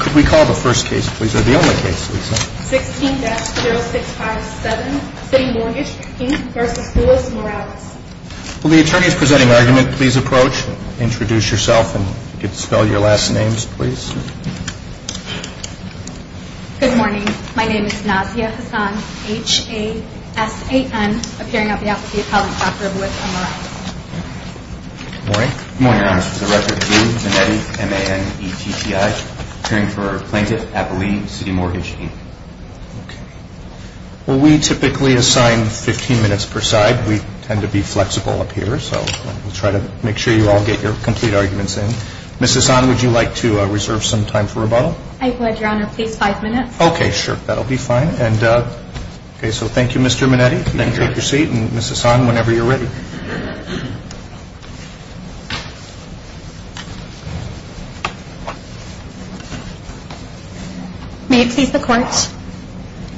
Could we call the first case, please, or the only case, Lisa? 16-0657, Citimortgage, Inc. v. Morales Will the attorneys presenting argument please approach, introduce yourself, and spell your last names, please. Good morning. My name is Nazia Hassan, H-A-S-A-N, appearing on behalf of the appellant, Dr. Royce Morales. Good morning. Good morning, Your Honor. This is a record of you, Minetti, M-A-N-E-T-T-I, appearing for Plaintiff Appellee, Citimortgage, Inc. Okay. Well, we typically assign 15 minutes per side. We tend to be flexible up here, so we'll try to make sure you all get your complete arguments in. Ms. Hassan, would you like to reserve some time for rebuttal? I would, Your Honor. Please, five minutes. Okay, sure. That'll be fine. Okay, so thank you, Mr. Minetti. Then take your seat, and Ms. Hassan, whenever you're ready. May it please the Court,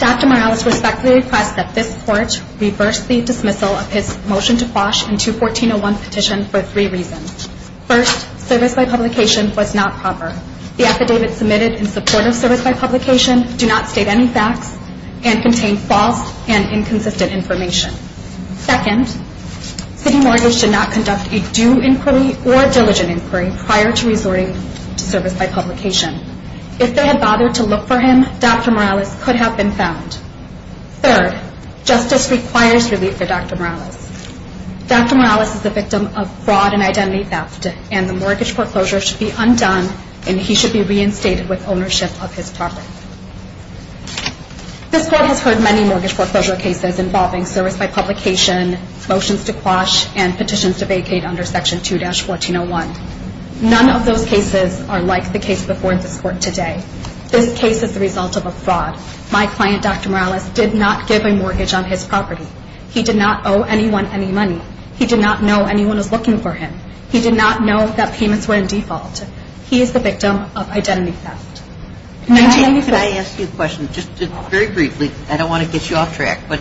Dr. Morales respectfully requests that this Court reverse the dismissal of his motion to quash in 214-01 petition for three reasons. First, service by publication was not proper. The affidavit submitted in support of service by publication do not state any facts and contain false and inconsistent information. Second, Citimortgage did not conduct a due inquiry or diligent inquiry prior to resorting to service by publication. If they had bothered to look for him, Dr. Morales could have been found. Third, justice requires relief for Dr. Morales. Dr. Morales is the victim of fraud and identity theft, and the mortgage foreclosure should be undone, and he should be reinstated with ownership of his property. This Court has heard many mortgage foreclosure cases involving service by publication, motions to quash, and petitions to vacate under Section 2-1401. None of those cases are like the case before this Court today. This case is the result of a fraud. My client, Dr. Morales, did not give a mortgage on his property. He did not owe anyone any money. He did not know anyone was looking for him. He did not know that payments were in default. He is the victim of identity theft. Can I ask you a question, just very briefly? I don't want to get you off track, but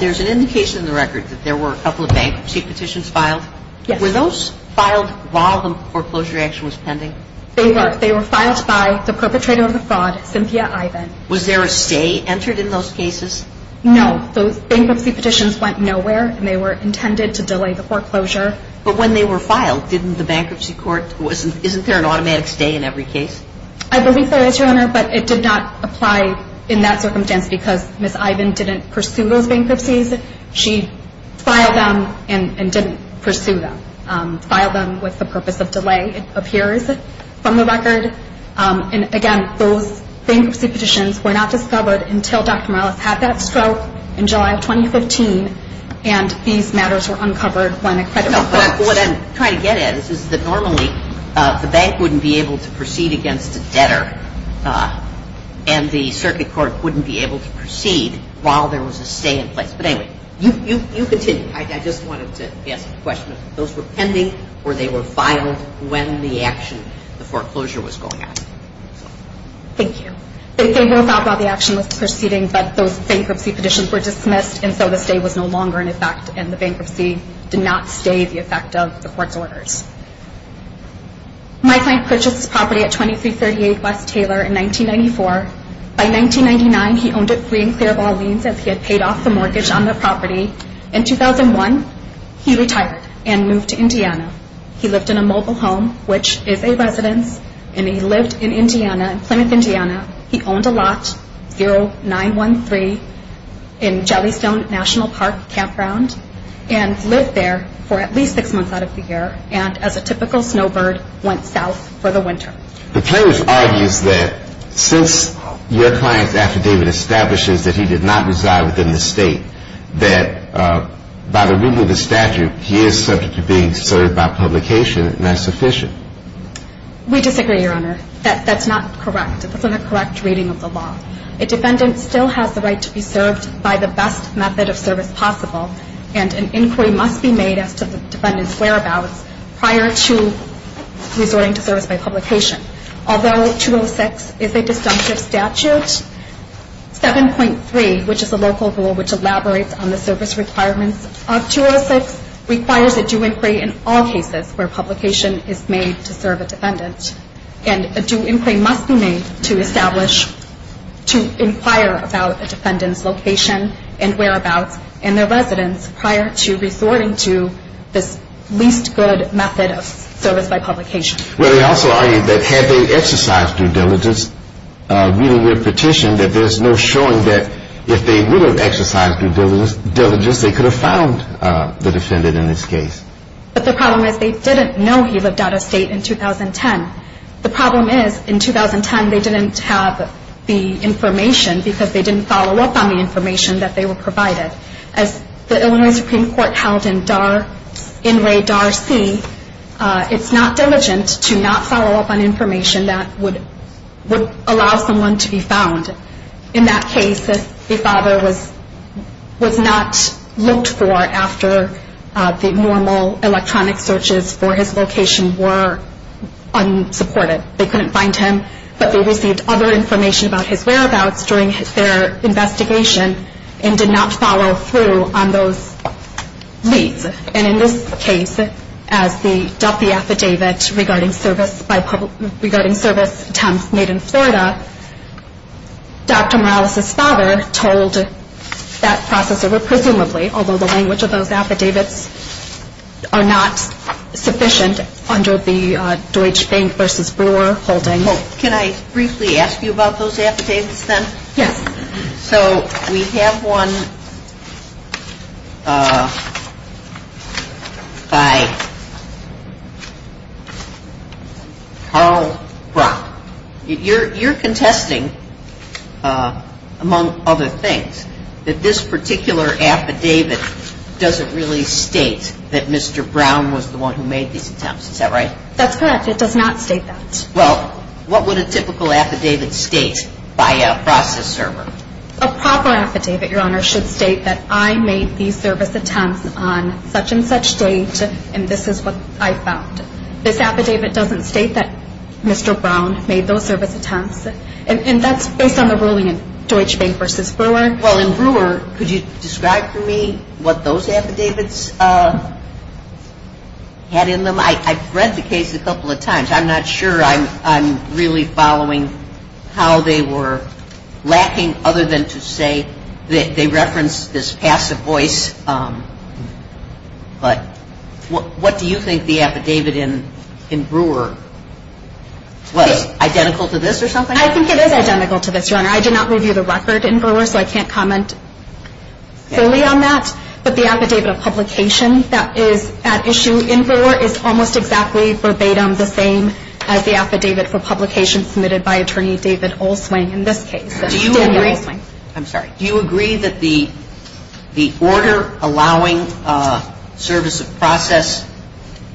there's an indication in the record that there were a couple of bankruptcy petitions filed. Yes. Were those filed while the foreclosure action was pending? They were. They were filed by the perpetrator of the fraud, Cynthia Ivan. Was there a stay entered in those cases? No. Those bankruptcy petitions went nowhere, and they were intended to delay the foreclosure. But when they were filed, didn't the bankruptcy court – isn't there an automatic stay in every case? I believe there is, Your Honor, but it did not apply in that circumstance because Ms. Ivan didn't pursue those bankruptcies. She filed them and didn't pursue them. Filed them with the purpose of delay, it appears from the record. And, again, those bankruptcy petitions were not discovered until Dr. Morales had that stroke in July of 2015, and these matters were uncovered when a credit report – No, but what I'm trying to get at is that normally the bank wouldn't be able to proceed against a debtor, and the circuit court wouldn't be able to proceed while there was a stay in place. But anyway, you continue. I just wanted to ask a question. Those were pending, or they were filed when the action – the foreclosure was going on? Thank you. They were filed while the action was proceeding, but those bankruptcy petitions were dismissed, and so the stay was no longer in effect, and the bankruptcy did not stay the effect of the court's orders. My client purchased this property at 2338 West Taylor in 1994. By 1999, he owned it free and clear of all liens as he had paid off the mortgage on the property. In 2001, he retired and moved to Indiana. He lived in a mobile home, which is a residence, and he lived in Indiana, Plymouth, Indiana. He owned a lot, 0913 in Jellystone National Park Campground, and lived there for at least six months out of the year and, as a typical snowbird, went south for the winter. The plaintiff argues that since your client's affidavit establishes that he did not reside within the state, that by the rule of the statute, he is subject to being served by publication, and that's sufficient. We disagree, Your Honor. That's not correct. That's not a correct reading of the law. A defendant still has the right to be served by the best method of service possible, and an inquiry must be made as to the defendant's whereabouts prior to resorting to service by publication. Although 206 is a disjunctive statute, 7.3, which is a local rule which elaborates on the service requirements of 206, requires a due inquiry in all cases where publication is made to serve a defendant, and a due inquiry must be made to establish, to inquire about a defendant's location and whereabouts in their residence prior to resorting to this least good method of service by publication. Well, they also argue that had they exercised due diligence, reading their petition, that there's no showing that if they would have exercised due diligence, they could have found the defendant in this case. But the problem is they didn't know he lived out of state in 2010. The problem is, in 2010, they didn't have the information because they didn't follow up on the information that they were provided. As the Illinois Supreme Court held in NRA Dar C, it's not diligent to not follow up on information that would allow someone to be found. In that case, the father was not looked for after the normal electronic searches for his location were unsupported. They couldn't find him, but they received other information about his whereabouts during their investigation and did not follow through on those leads. And in this case, as the Duffy Affidavit regarding service attempts made in Florida, Dr. Morales' father told that process over, presumably, although the language of those affidavits are not sufficient under the Deutsche Bank v. Brewer holding. And so, in this particular case, the Duffy Affidavit does not state that Mr. Brown was the one who made these attempts. Can I briefly ask you about those affidavits, then? Yes. So we have one by Carl Brock. You're contesting, among other things, that this particular affidavit doesn't really state that Mr. Brown was the one who made these attempts. Is that right? That's correct. It does not state that. Well, what would a typical affidavit state by a process server? A proper affidavit, Your Honor, should state that I made these service attempts on such and such date, and this is what I found. This affidavit doesn't state that Mr. Brown made those service attempts, and that's based on the ruling in Deutsche Bank v. Brewer. Well, in Brewer, could you describe for me what those affidavits had in them? I've read the case a couple of times. I think that the affidavit in Brewer was identical to this, or something? I think it is identical to this, Your Honor. I did not review the record in Brewer, so I can't comment fully on that. But the affidavit of publication that is at issue in Brewer is almost exactly verbatim the same as the affidavit for publication submitted by Attorney David Olswing in this case. Do you agree that the order allowing service of process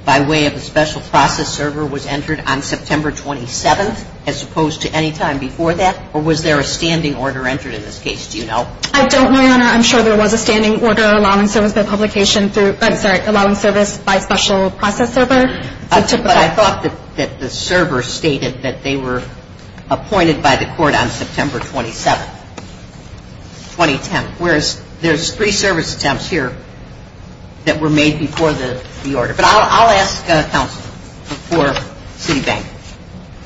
by way of a special process server was entered on September 27th, as opposed to any time before that? Or was there a standing order entered in this case? Do you know? I don't, Your Honor. I'm sure there was a standing order allowing service by publication through – I'm sorry, allowing service by special process server. But I thought that the server stated that they were appointed by the court on September 27th, 2010. Whereas there's three service attempts here that were made before the order. But I'll ask counsel for Citibank.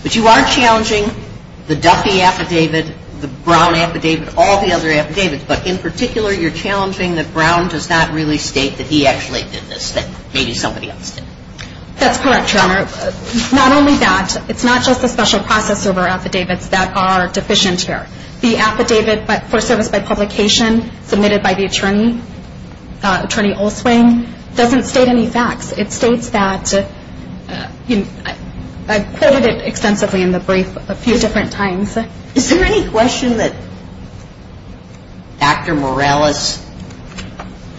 But you are challenging the Duffy affidavit, the Brown affidavit, all the other affidavits. But in particular, you're challenging that Brown does not really state that he actually did this, that maybe somebody else did. That's correct, Your Honor. Not only that, it's not just the special process server affidavits that are deficient here. The affidavit for service by publication submitted by the attorney, Attorney Olswing, doesn't state any facts. It states that – I quoted it extensively in the brief a few different times. Is there any question that Dr. Morales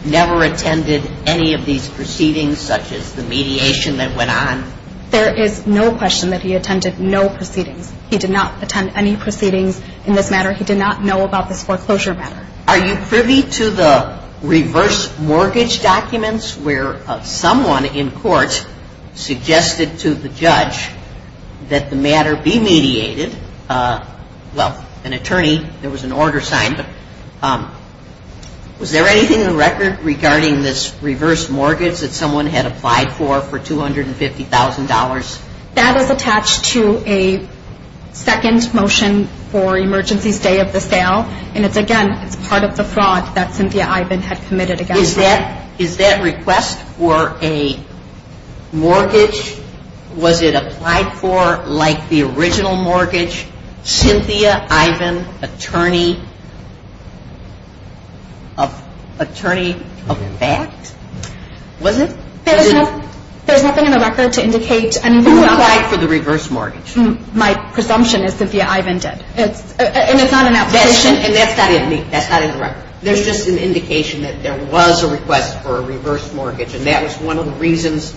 never attended any of these proceedings such as the mediation that went on? There is no question that he attended no proceedings. He did not attend any proceedings in this matter. He did not know about this foreclosure matter. Are you privy to the reverse mortgage documents where someone in court suggested to the judge that the matter be mediated? Well, an attorney, there was an order signed, but was there anything in the record regarding this reverse mortgage that someone had applied for for $250,000? There was a second motion for emergency stay of the sale, and again, it's part of the fraud that Cynthia Ivan had committed against her. Is that request for a mortgage, was it applied for like the original mortgage? Cynthia Ivan, attorney of fact? There's nothing in the record to indicate – It was applied for the reverse mortgage. My presumption is Cynthia Ivan did, and it's not an application. Yes, and that's not in the record. There's just an indication that there was a request for a reverse mortgage, and that was one of the reasons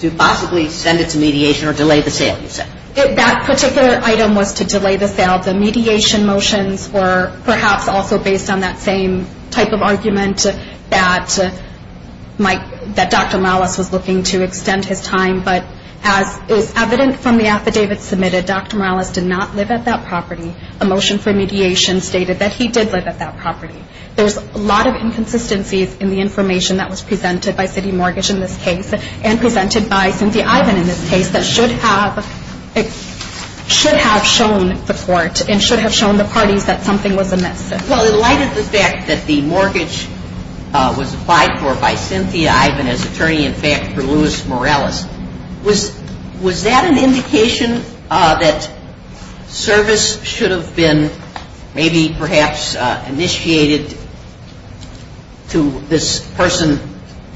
to possibly send it to mediation or delay the sale, you said. It's evident from the affidavit submitted, Dr. Morales did not live at that property. A motion for mediation stated that he did live at that property. There's a lot of inconsistencies in the information that was presented by City Mortgage in this case, and presented by Cynthia Ivan in this case, that should have shown the court and should have shown the parties that something was amiss. Well, in light of the fact that the mortgage was applied for by Cynthia Ivan as attorney in fact for Louis Morales, was that an indication that service should have been maybe perhaps initiated to this person,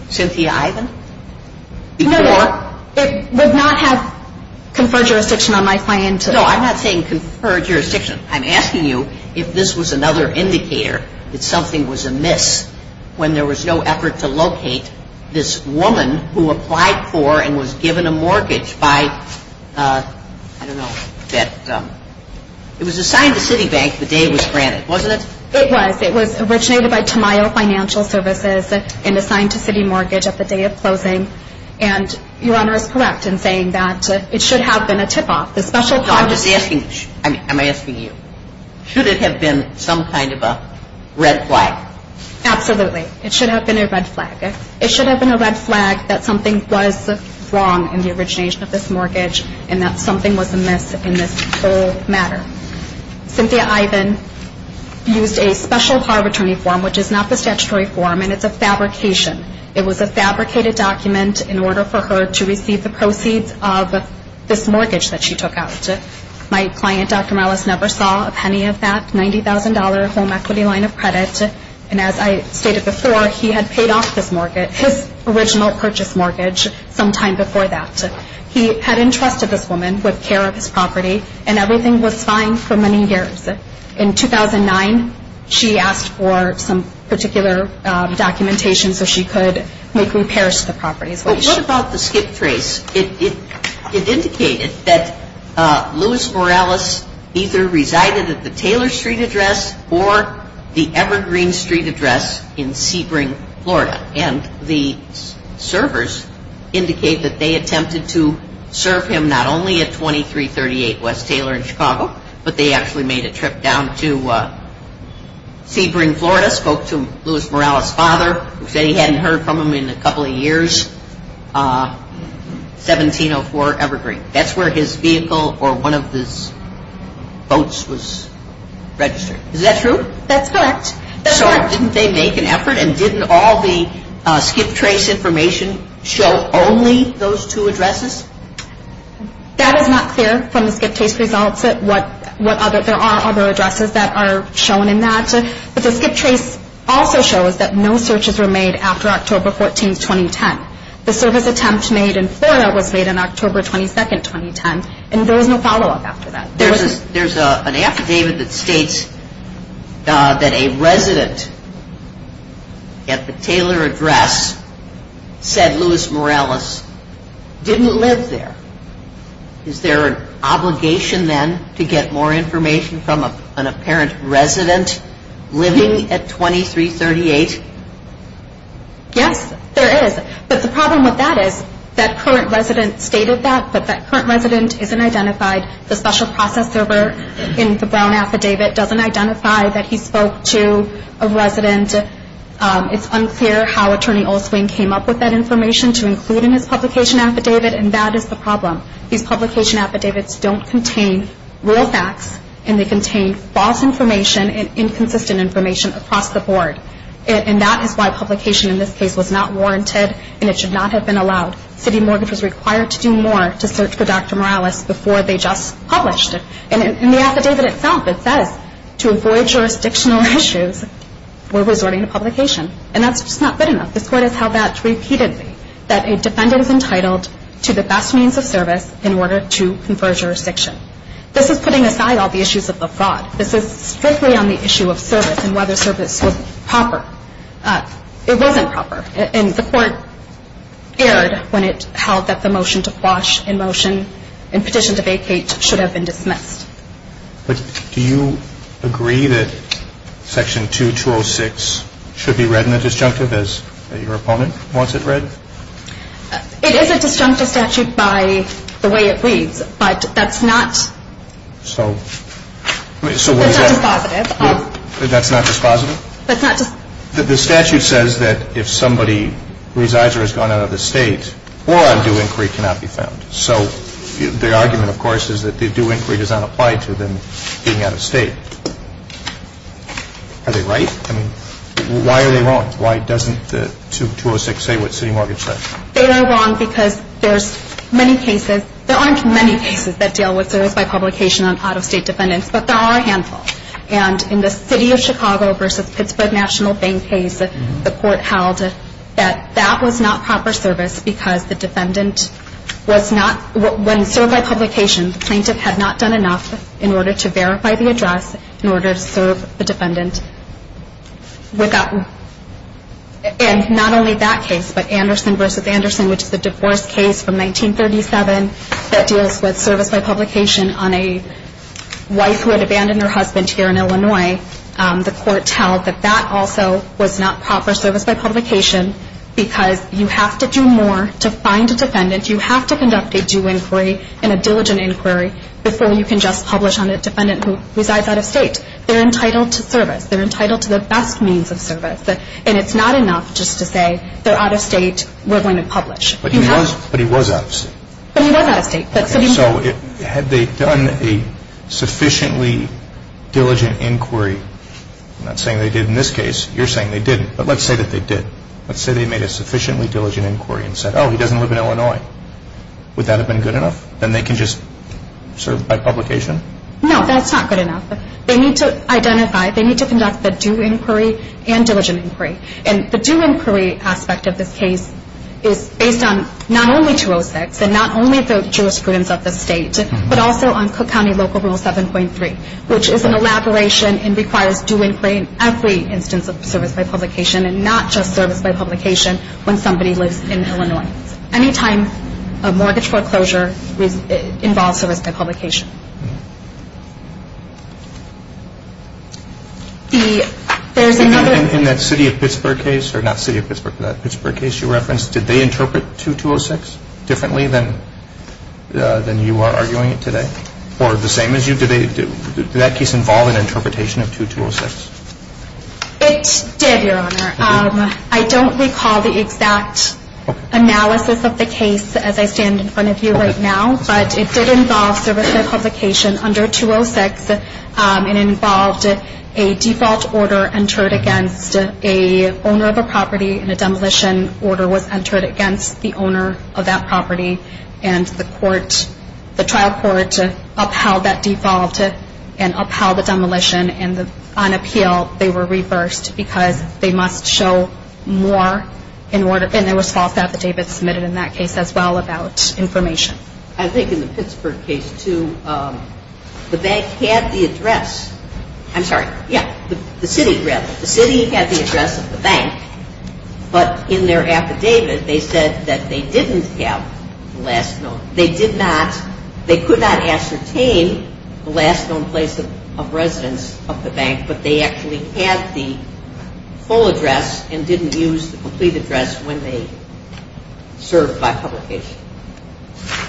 Cynthia Ivan? No, it would not have conferred jurisdiction on my client. No, I'm not saying confer jurisdiction. I'm asking you if this was another indicator that something was amiss when there was no effort to locate this woman who applied for and was given a mortgage by, I don't know, it was assigned to Citibank the day it was granted, wasn't it? It was. It was originated by Tamayo Financial Services and assigned to City Mortgage at the day of closing. And Your Honor is correct in saying that it should have been a tip-off. I'm asking you, should it have been some kind of a red flag? Absolutely. It should have been a red flag. It should have been a red flag that something was wrong in the origination of this mortgage and that something was amiss in this whole matter. Cynthia Ivan used a special power of attorney form, which is not the statutory form, and it's a fabrication. It was a fabricated document in order for her to receive the proceeds of this mortgage that she took out. My client, Dr. Morales, never saw a penny of that $90,000 home equity line of credit. And as I stated before, he had paid off this mortgage, his original purchase mortgage sometime before that. He had entrusted this woman with care of his property, and everything was fine for many years. In 2009, she asked for some particular documentation so she could make repairs to the property. What about the skip trace? It indicated that Louis Morales either resided at the Taylor Street address or the Evergreen Street address in Sebring, Florida. And the servers indicate that they attempted to serve him not only at 2338 West Taylor in Chicago, but they actually made a trip down to Sebring, Florida, spoke to Louis Morales' father, who said he hadn't heard from him in a couple of years, 1704 Evergreen. That's where his vehicle or one of his boats was registered. So didn't they make an effort and didn't all the skip trace information show only those two addresses? That is not clear from the skip trace results. There are other addresses that are shown in that, but the skip trace also shows that no searches were made after October 14, 2010. The service attempt made in Florida was made on October 22, 2010, and there was no follow-up after that. There's an affidavit that states that a resident at the Taylor address said Louis Morales didn't live there. Is there an obligation then to get more information from an apparent resident living at 2338? Yes, there is. But the problem with that is that current resident stated that, but that current resident isn't identified. The special process server in the Brown affidavit doesn't identify that he spoke to a resident. It's unclear how Attorney Olswin came up with that information to include in his publication affidavit, and that is the problem. These publication affidavits don't contain real facts, and they contain false information and inconsistent information across the board. And that is why publication in this case was not warranted, and it should not have been allowed. City mortgage was required to do more to search for Dr. Morales before they just published. And in the affidavit itself, it says to avoid jurisdictional issues, we're resorting to publication. And that's just not good enough. This Court has held that repeatedly, that a defendant is entitled to the best means of service in order to confer jurisdiction. This is putting aside all the issues of the fraud. This is strictly on the issue of service and whether service was proper. It wasn't proper. And the Court erred when it held that the motion to quash in motion and petition to vacate should have been dismissed. But do you agree that Section 2206 should be read in the disjunctive as your opponent wants it read? It is a disjunctive statute by the way it reads. But that's not dispositive. That's not dispositive? The statute says that if somebody resides or has gone out of the State or on due inquiry cannot be found. So the argument, of course, is that the due inquiry does not apply to them being out of State. Are they right? I mean, why are they wrong? Why doesn't the 2206 say what City Mortgage says? They are wrong because there's many cases, there aren't many cases that deal with service by publication on out-of-State defendants, but there are a handful. And in the City of Chicago v. Pittsburgh National Bank case, the Court held that that was not proper service because the defendant was not, when served by publication, the plaintiff had not done enough in order to verify the address in order to serve the defendant. And not only that case, but Anderson v. Anderson, which is a divorce case from 1937 that deals with service by publication on a wife who had abandoned her husband here in Illinois, the Court held that that also was not proper service by publication because you have to do more to find a defendant. You have to conduct a due inquiry and a diligent inquiry before you can just publish on a defendant who resides out-of-State. They're entitled to service. They're entitled to the best means of service. And it's not enough just to say they're out-of-State, we're going to publish. But he was out-of-State. But he was out-of-State. So had they done a sufficiently diligent inquiry? I'm not saying they did in this case. You're saying they didn't. But let's say that they did. Let's say they made a sufficiently diligent inquiry and said, oh, he doesn't live in Illinois. Would that have been good enough? Then they can just serve by publication? No, that's not good enough. They need to identify, they need to conduct the due inquiry and diligent inquiry. And the due inquiry aspect of this case is based on not only 206 and not only the jurisprudence of the State, but also on Cook County Local Rule 7.3, which is an elaboration and requires due inquiry in every instance of service by publication and not just service by publication when somebody lives in Illinois. Any time a mortgage foreclosure involves service by publication. In that City of Pittsburgh case, or not City of Pittsburgh, that Pittsburgh case you referenced, did they interpret 2206 differently than you are arguing it today? Or the same as you? Did that case involve an interpretation of 2206? It did, Your Honor. I don't recall the exact analysis of the case as I stand in front of you right now. But it did involve service by publication under 206. It involved a default order entered against an owner of a property and the trial court upheld that default and upheld the demolition. And on appeal, they were reversed because they must show more in order and there was false affidavits submitted in that case as well about information. I think in the Pittsburgh case, too, the bank had the address. I'm sorry. Yeah. The City had the address of the bank. But in their affidavit, they said that they didn't have the last known. They did not, they could not ascertain the last known place of residence of the bank, but they actually had the full address and didn't use the complete address when they served by publication. Thank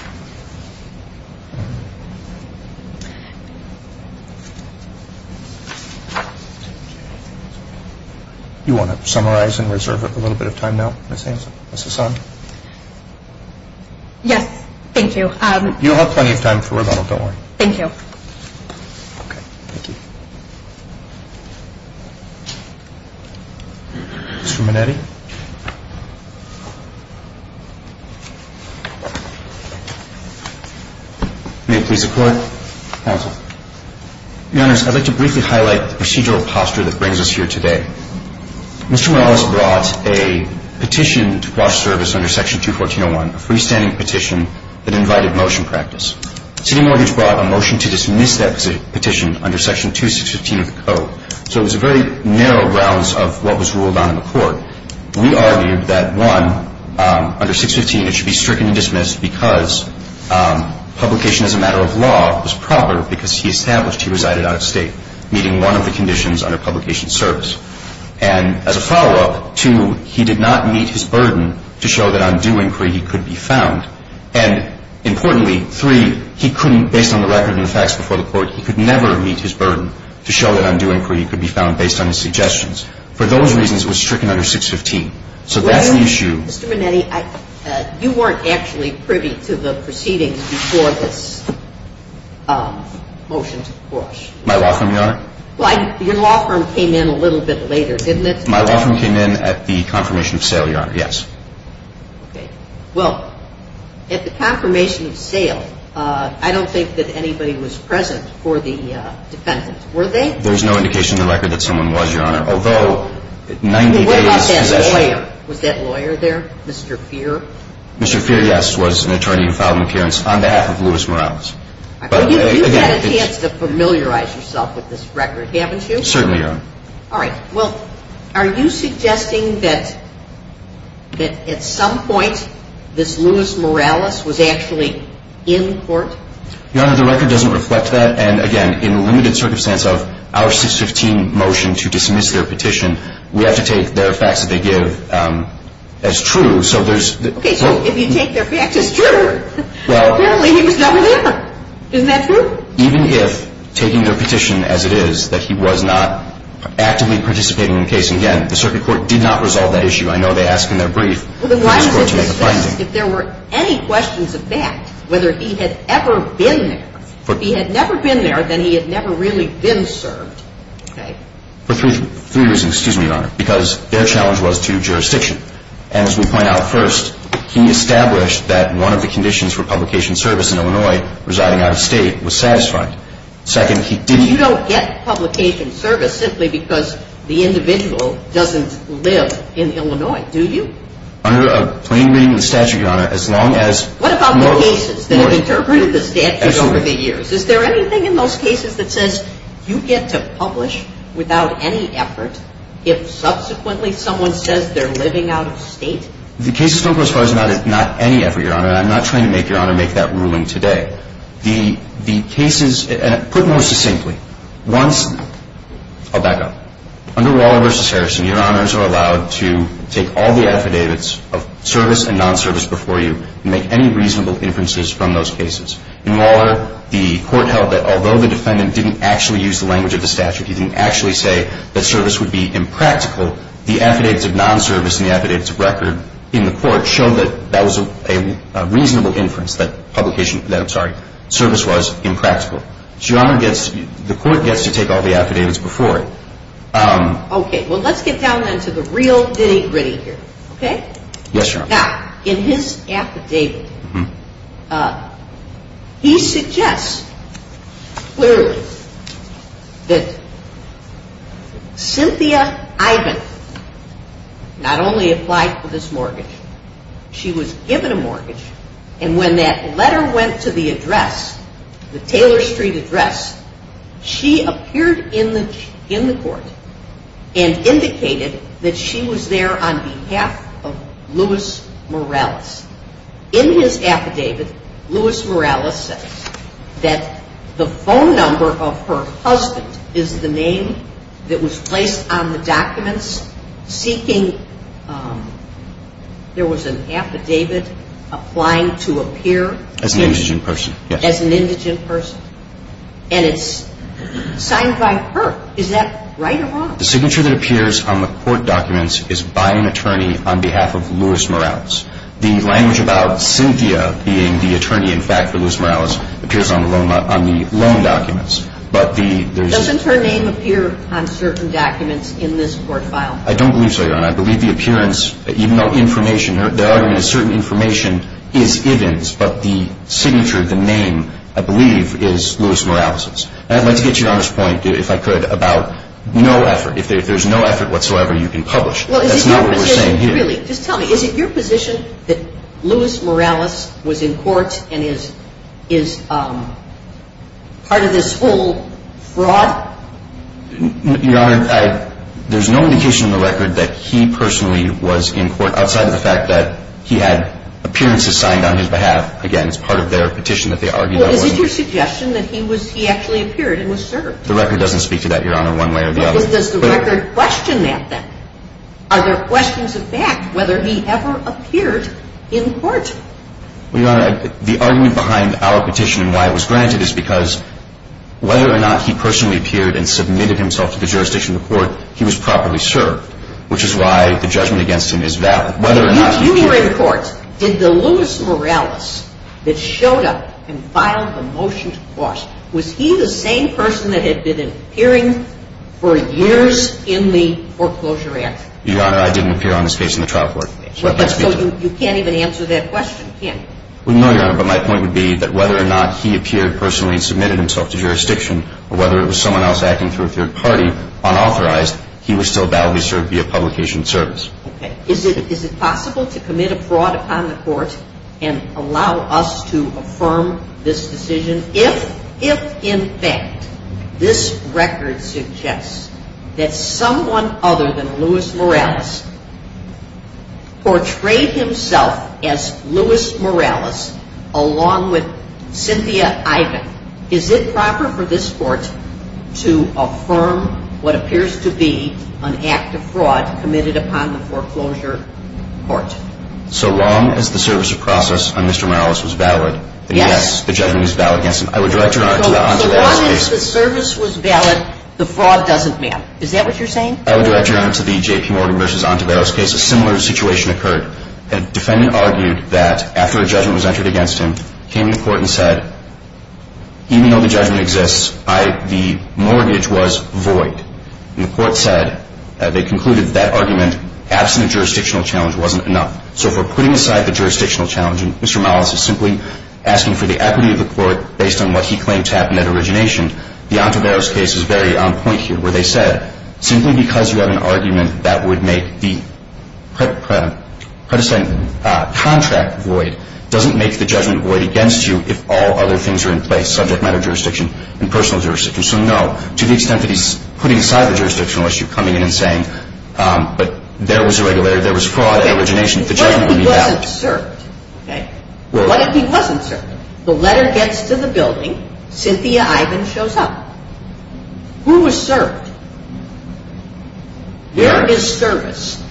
you. You want to summarize and reserve a little bit of time now, Ms. Hanson? Ms. Hassan? Yes. Thank you. You'll have plenty of time for rebuttal. Don't worry. Thank you. Okay. Thank you. Ms. Ruminetti? May it please the Court. Counsel. Your Honors, I'd like to briefly highlight the procedural posture that brings us here today. Mr. Morales brought a petition to cross-service under Section 214.01, a freestanding petition that invited motion practice. City mortgage brought a motion to dismiss that petition under Section 2615 of the Code. So it was a very narrow rounds of what was ruled on in the Court. We argued that, one, under 615 it should be stricken and dismissed because publication as a matter of law was proper because he established he resided out of State, meeting one of the conditions under publication service. And as a follow-up, two, he did not meet his burden to show that on due inquiry he could be found. And importantly, three, he couldn't, based on the record and the facts before the Court, he could never meet his burden to show that on due inquiry he could be found based on his suggestions. For those reasons, it was stricken under 615. So that's the issue. Mr. Manetti, you weren't actually privy to the proceedings before this motion took course. My law firm, Your Honor? Well, your law firm came in a little bit later, didn't it? My law firm came in at the confirmation of sale, Your Honor. Yes. Okay. Well, at the confirmation of sale, I don't think that anybody was present for the defendant. Were they? There's no indication in the record that someone was, Your Honor, although 90 days possession. What about that lawyer? Was that lawyer there, Mr. Feer? Mr. Feer, yes, was an attorney who filed an appearance on behalf of Louis Morales. You've had a chance to familiarize yourself with this record, haven't you? Certainly, Your Honor. All right. Well, are you suggesting that at some point this Louis Morales was actually in court? Your Honor, the record doesn't reflect that. I'm not suggesting that, Your Honor, the record doesn't reflect that at all. He was not in court. And again, in limited circumstance of our 615 motion to dismiss their petition, we have to take their facts that they give as true. Okay. So if you take their facts as true, apparently he was not there. Isn't that true? Even if, taking their petition as it is, that he was not actively participating in the case. And again, the circuit court did not resolve that issue. I know they asked in their brief to ask for it to make a finding. If there were any questions of that, whether he had ever been there, if he had never been there, then he had never really been served. For three years, excuse me, Your Honor, because their challenge was to jurisdiction. And as we point out first, he established that one of the conditions for publication service in Illinois, residing out of state, was satisfied. Second, he didn't. You don't get publication service simply because the individual doesn't live in Illinois, do you? Under a plain reading of the statute, Your Honor, as long as... What about the cases that have interpreted the statute over the years? Is there anything in those cases that says you get to publish without any effort if subsequently someone says they're living out of state? The cases don't go as far as not any effort, Your Honor. I'm not trying to make Your Honor make that ruling today. The cases, put more succinctly, once... I'll back up. Under Waller v. Harrison, Your Honors are allowed to take all the affidavits of service and non-service before you and make any reasonable inferences from those cases. In Waller, the court held that although the defendant didn't actually use the language of the statute, he didn't actually say that service would be impractical, the affidavits of non-service and the affidavits of record in the court show that that was a reasonable inference that publication... that, I'm sorry, service was impractical. Your Honor, the court gets to take all the affidavits before it. Okay. Well, let's get down then to the real nitty-gritty here, okay? Yes, Your Honor. Now, in his affidavit, he suggests clearly that Cynthia Ivan not only applied for this mortgage, she was given a mortgage, and when that letter went to the address, the Taylor Street address, she appeared in the court and indicated that she was there on behalf of Louis Morales. In his affidavit, Louis Morales says that the phone number of her husband is the name that was placed on the documents seeking... there was an affidavit applying to appear... As an indigent person, yes. And it's signed by her. Is that right or wrong? The signature that appears on the court documents is by an attorney on behalf of Louis Morales. The language about Cynthia being the attorney in fact for Louis Morales appears on the loan documents. But the... Doesn't her name appear on certain documents in this court file? I don't believe so, Your Honor. I believe the appearance, even though information... certain information is Ivan's, but the signature, the name, I believe, is Louis Morales'. And I'd like to get to Your Honor's point, if I could, about no effort. If there's no effort whatsoever, you can publish. That's not what we're saying here. Just tell me, is it your position that Louis Morales was in court and is part of this whole fraud? Your Honor, there's no indication in the record that he personally was in court outside of the fact that he had appearances signed on his behalf. Again, it's part of their petition that they argued... Well, is it your suggestion that he was... he actually appeared and was served? The record doesn't speak to that, Your Honor, one way or the other. Well, does the record question that then? Are there questions of fact whether he ever appeared in court? Well, Your Honor, the argument behind our petition and why it was granted is because whether or not he personally appeared and submitted himself to the jurisdiction of the court, he was properly served, which is why the judgment against him is valid. You were in court. Did the Louis Morales that showed up and filed the motion to cross, was he the same person that had been appearing for years in the foreclosure act? Your Honor, I didn't appear on this case in the trial court. So you can't even answer that question, can you? Well, no, Your Honor, but my point would be that whether or not he appeared personally and submitted himself to jurisdiction or whether it was someone else acting through a third party unauthorized, he was still validly served via publication of service. Okay. Is it possible to commit a fraud on the court and allow us to affirm this decision if, in fact, this record suggests that someone other than Louis Morales portrayed himself as Louis Morales along with Cynthia Ivan? Is it proper for this court to affirm what appears to be an act of fraud committed upon the foreclosure court? So long as the service of process on Mr. Morales was valid, then, yes, the judgment is valid against him. I would direct Your Honor to the on-site investigation. So long as the service was valid, the fraud doesn't matter. Is that what you're saying? I would direct Your Honor to the J.P. Morgan v. Ontiveros case. A similar situation occurred. A defendant argued that after a judgment was entered against him, he came to the court and said, even though the judgment exists, the mortgage was void. And the court said that they concluded that that argument, absent a jurisdictional challenge, wasn't enough. So for putting aside the jurisdictional challenge, and Mr. Morales is simply asking for the equity of the court based on what he claimed to have in that origination, the Ontiveros case is very on point here, where they said, simply because you have an argument that would make the predestined contract void, doesn't make the judgment void against you if all other things are in place, subject matter jurisdiction and personal jurisdiction. So no, to the extent that he's putting aside the jurisdictional issue, coming in and saying, but there was irregularity, there was fraud at origination, the judgment would be valid. What if he wasn't served? What if he wasn't served? The letter gets to the building. Cynthia Ivan shows up. Who was served? Where is service?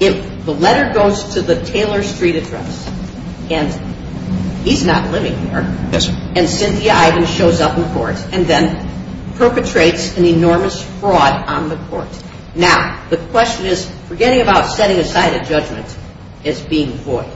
If the letter goes to the Taylor Street address, and he's not living there, and Cynthia Ivan shows up in court and then perpetrates an enormous fraud on the court. Now, the question is, forgetting about setting aside a judgment as being void,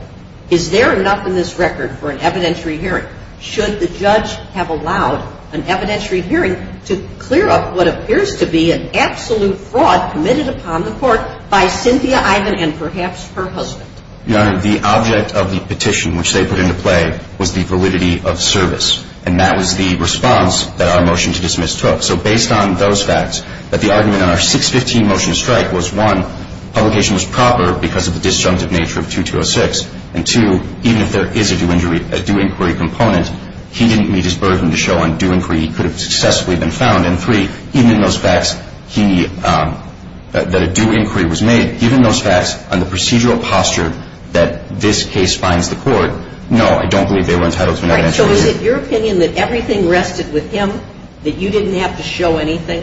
is there enough in this record for an evidentiary hearing? Should the judge have allowed an evidentiary hearing to clear up what appears to be an absolute fraud committed upon the court by Cynthia Ivan and perhaps her husband? Your Honor, the object of the petition, which they put into play, was the validity of service. And that was the response that our motion to dismiss took. So based on those facts, that the argument on our 615 motion to strike was, one, publication was proper because of the disjunctive nature of 2206. And, two, even if there is a due inquiry component, he didn't meet his burden to show on due inquiry he could have successfully been found. And, three, even in those facts that a due inquiry was made, given those facts and the procedural posture that this case finds the court, no, I don't believe they were entitled to an evidentiary hearing. So is it your opinion that everything rested with him, that you didn't have to show anything?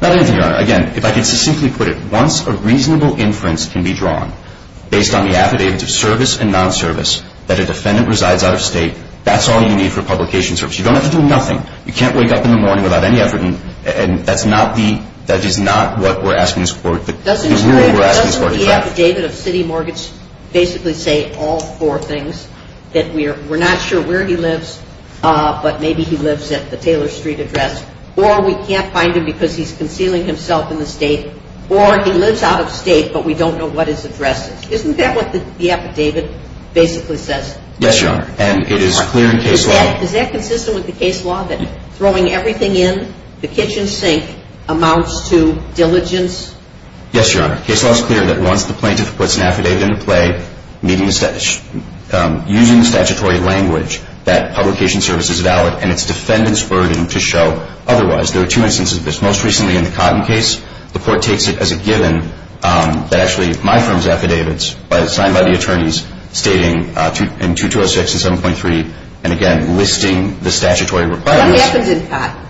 Not anything, Your Honor. Again, if I could simply put it, once a reasonable inference can be drawn, based on the affidavit of service and non-service, that a defendant resides out of state, that's all you need for publication service. You don't have to do nothing. You can't wake up in the morning without any evidence. And that's not the – that is not what we're asking this court to do. Doesn't the affidavit of city mortgage basically say all four things, that we're not sure where he lives, but maybe he lives at the Taylor Street address, or we can't find him because he's concealing himself in the state, or he lives out of state but we don't know what his address is. Isn't that what the affidavit basically says? Yes, Your Honor. And it is clear in case law – Is that consistent with the case law, that throwing everything in the kitchen sink amounts to diligence? Yes, Your Honor. The case law is clear that once the plaintiff puts an affidavit into play, using statutory language, that publication service is valid and it's defendant's burden to show otherwise. There are two instances of this. Most recently in the Cotton case, the court takes it as a given that actually my firm's affidavits, signed by the attorneys, stating in 2206 and 7.3, and again, listing the statutory requirements. What happened in Cotton?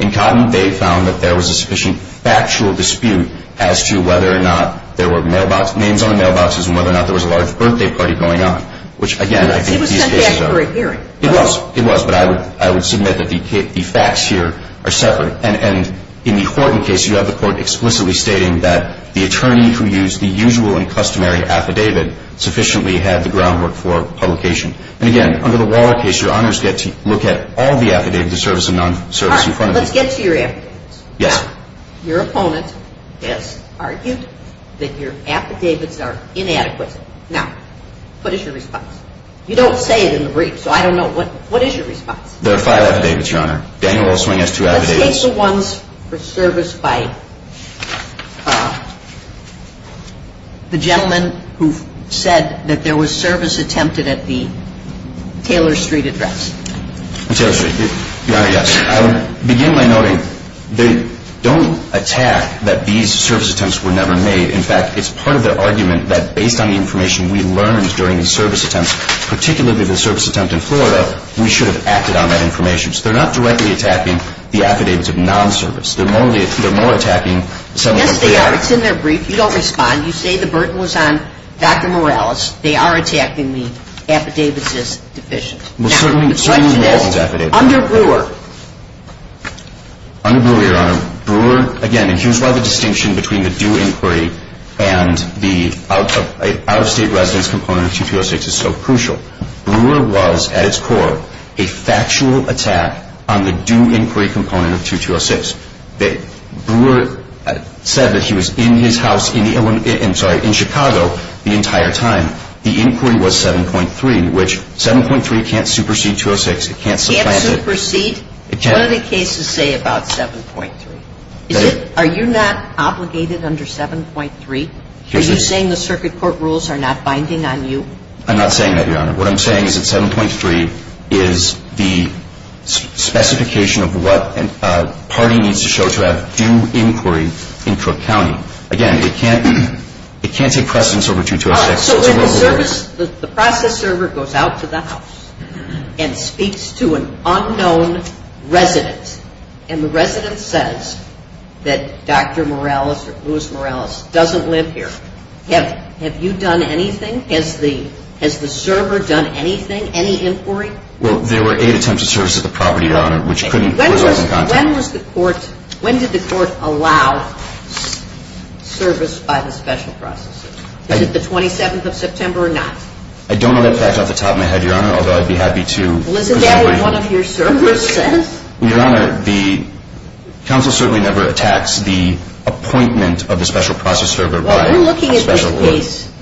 In Cotton, they found that there was a sufficient factual dispute as to whether or not there were names on the mailboxes and whether or not there was a large birthday party going on, which again, I think these cases are – It was sent back for a hearing. It was. It was. But I would submit that the facts here are separate. And in the Horton case, you have the court explicitly stating that the attorney who used the usual and customary affidavit sufficiently had the groundwork for publication. And again, under the Waller case, your honors get to look at all the affidavits of service and non-service in front of you. All right. Let's get to your affidavits. Yes. Your opponent has argued that your affidavits are inadequate. Now, what is your response? You don't say it in the brief, so I don't know. What is your response? There are five affidavits, Your Honor. Daniel Wellswing has two affidavits. Let's take the ones for service by the gentleman who said that there was service attempted at the Taylor Street address. Taylor Street. Your Honor, yes. I would begin by noting they don't attack that these service attempts were never made. In fact, it's part of their argument that based on the information we learned during the service attempts, particularly the service attempt in Florida, we should have acted on that information. So they're not directly attacking the affidavits of non-service. They're more attacking some of the reality. Yes, they are. It's in their brief. You don't respond. You say the burden was on Dr. Morales. They are attacking the affidavits as deficient. Now, the question is under Brewer. Under Brewer, Your Honor. Again, here's why the distinction between the due inquiry and the out-of-state residence component of 2206 is so crucial. Brewer was, at its core, a factual attack on the due inquiry component of 2206. Brewer said that he was in his house in Chicago the entire time. The inquiry was 7.3, which 7.3 can't supersede 206. It can't supplant it. Can't supersede? It can't. What do the cases say about 7.3? Are you not obligated under 7.3? Are you saying the circuit court rules are not binding on you? I'm not saying that, Your Honor. What I'm saying is that 7.3 is the specification of what a party needs to show to have due inquiry in Cook County. Again, it can't take precedence over 2206. So when the process server goes out to the house and speaks to an unknown resident, and the resident says that Dr. Morales or Louis Morales doesn't live here, have you done anything? Has the server done anything, any inquiry? Well, there were eight attempts of service at the property, Your Honor, which was in context. When did the court allow service by the special processes? Is it the 27th of September or not? I don't know that fact off the top of my head, Your Honor, although I'd be happy to. Well, isn't that what one of your servers says? Well, Your Honor, the counsel certainly never attacks the appointment of the special process server by a special service. Well, in looking at this case,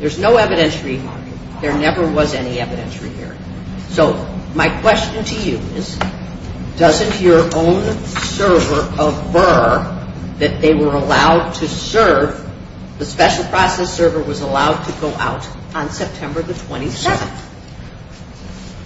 there's no evidentiary here. There never was any evidentiary here. So my question to you is, doesn't your own server affirm that they were allowed to serve? The special process server was allowed to go out on September the 27th.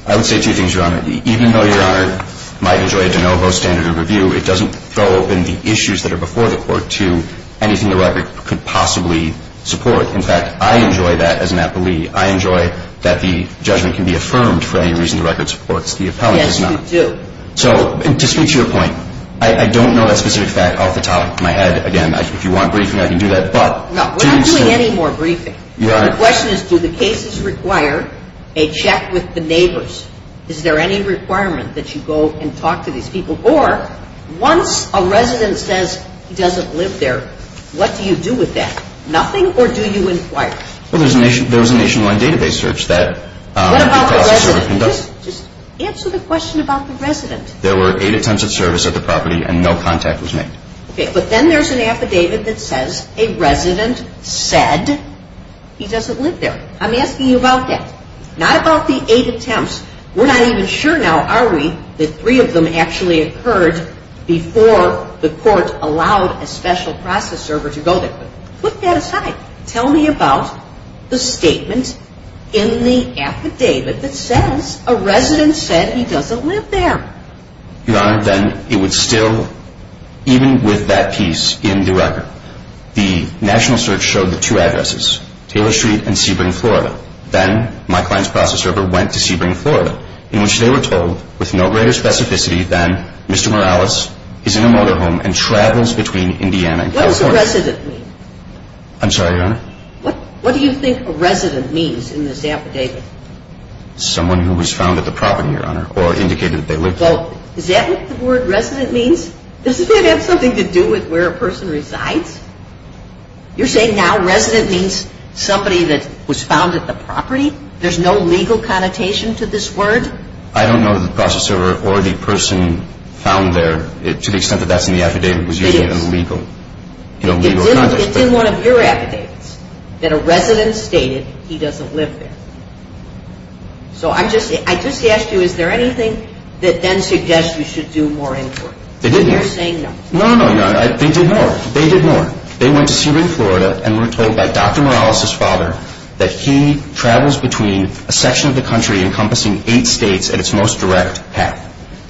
I would say two things, Your Honor. Even though Your Honor might enjoy a de novo standard of review, it doesn't throw open the issues that are before the court to anything the record could possibly support. In fact, I enjoy that as an appellee. I enjoy that the judgment can be affirmed for any reason the record supports the appellee. Yes, you do. So to speak to your point, I don't know that specific fact off the top of my head. Again, if you want briefing, I can do that. No, we're not doing any more briefing. Your Honor. The question is, do the cases require a check with the neighbors? Is there any requirement that you go and talk to these people? Or once a resident says he doesn't live there, what do you do with that? Nothing or do you inquire? Well, there was a nationwide database search that the process server conducted. What about the resident? Just answer the question about the resident. There were eight attempts of service at the property and no contact was made. Okay, but then there's an affidavit that says a resident said he doesn't live there. I'm asking you about that, not about the eight attempts. We're not even sure now, are we, that three of them actually occurred before the court allowed a special process server to go there. Put that aside. Tell me about the statement in the affidavit that says a resident said he doesn't live there. Your Honor, then it would still, even with that piece in the record, the national search showed the two addresses, Taylor Street and Sebring, Florida. Then my client's process server went to Sebring, Florida, in which they were told with no greater specificity than Mr. Morales is in a motorhome and travels between Indiana and California. What does a resident mean? I'm sorry, Your Honor? What do you think a resident means in this affidavit? Someone who was found at the property, Your Honor, or indicated that they lived there. Well, is that what the word resident means? Doesn't that have something to do with where a person resides? You're saying now resident means somebody that was found at the property? There's no legal connotation to this word? I don't know that the process server or the person found there, to the extent that that's in the affidavit, was using it in a legal context. It's in one of your affidavits that a resident stated he doesn't live there. So I just asked you, is there anything that then suggests we should do more inquiry? They didn't. You're saying no. No, no, no, Your Honor. They did more. They did more. They went to Sebring, Florida, and were told by Dr. Morales' father that he travels between a section of the country encompassing eight states at its most direct path,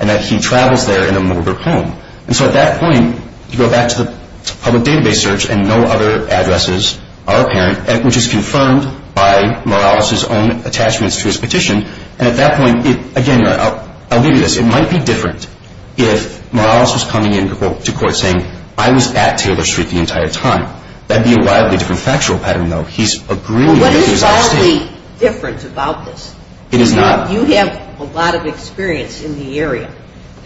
and that he travels there in a motor home. And so at that point, you go back to the public database search, and no other addresses are apparent, which is confirmed by Morales' own attachments to his petition. And at that point, again, Your Honor, I'll give you this. It might be different if Morales was coming in to court saying, I was at Taylor Street the entire time. That would be a wildly different factual pattern, though. He's agreeing with his own statement. Well, what is wildly different about this? It is not. You have a lot of experience in the area.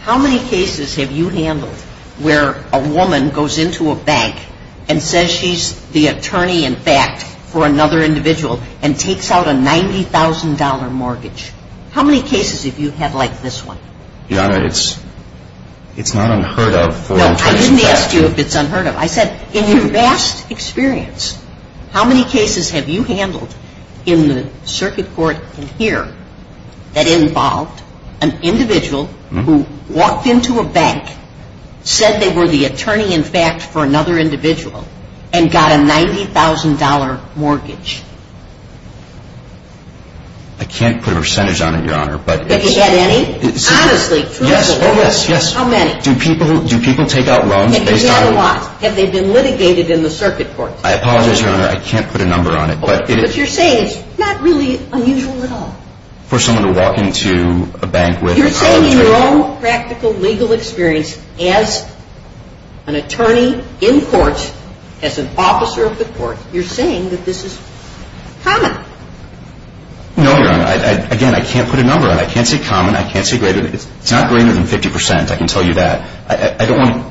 How many cases have you handled where a woman goes into a bank and says she's the attorney-in-fact for another individual and takes out a $90,000 mortgage? How many cases have you had like this one? Your Honor, it's not unheard of for an attorney-in-fact. Well, I didn't ask you if it's unheard of. I said in your vast experience, how many cases have you handled in the circuit court in here that involved an individual who walked into a bank, said they were the attorney-in-fact for another individual, and got a $90,000 mortgage? I can't put a percentage on it, Your Honor. But have you had any? Honestly. Yes. Oh, yes, yes. How many? Do people take out loans based on? Have they been litigated in the circuit court? I apologize, Your Honor. I can't put a number on it. But you're saying it's not really unusual at all. For someone to walk into a bank with a college degree. You're saying in your own practical legal experience, as an attorney in court, as an officer of the court, you're saying that this is common. No, Your Honor. Again, I can't put a number on it. I can't say common. I can't say greater. It's not greater than 50%. I can tell you that. I don't want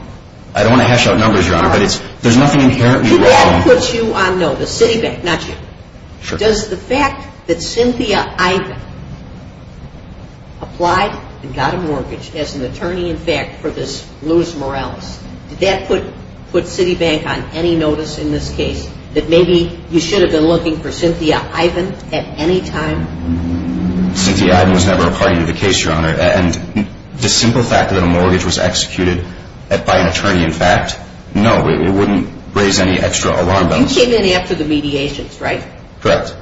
to hash out numbers, Your Honor. But that puts you on notice. Citibank, not you. Sure. Does the fact that Cynthia Ivan applied and got a mortgage as an attorney-in-fact for this Louis Morales, did that put Citibank on any notice in this case that maybe you should have been looking for Cynthia Ivan at any time? Cynthia Ivan was never a part of the case, Your Honor. And the simple fact that a mortgage was executed by an attorney-in-fact, no, it wouldn't raise any extra alarm bells. You came in after the mediations, right? Correct.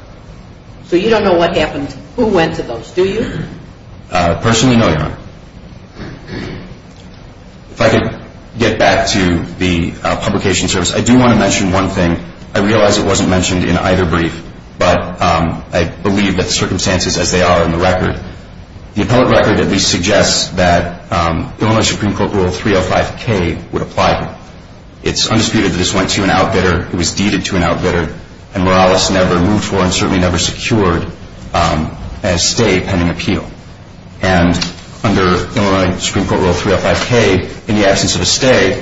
So you don't know what happened, who went to those, do you? Personally, no, Your Honor. If I could get back to the publication service, I do want to mention one thing. I realize it wasn't mentioned in either brief, but I believe that the circumstances as they are in the record, the appellate record at least suggests that Illinois Supreme Court Rule 305K would apply here. It's undisputed that this went to an outbidder. It was deeded to an outbidder, and Morales never moved for and certainly never secured a stay pending appeal. And under Illinois Supreme Court Rule 305K, in the absence of a stay,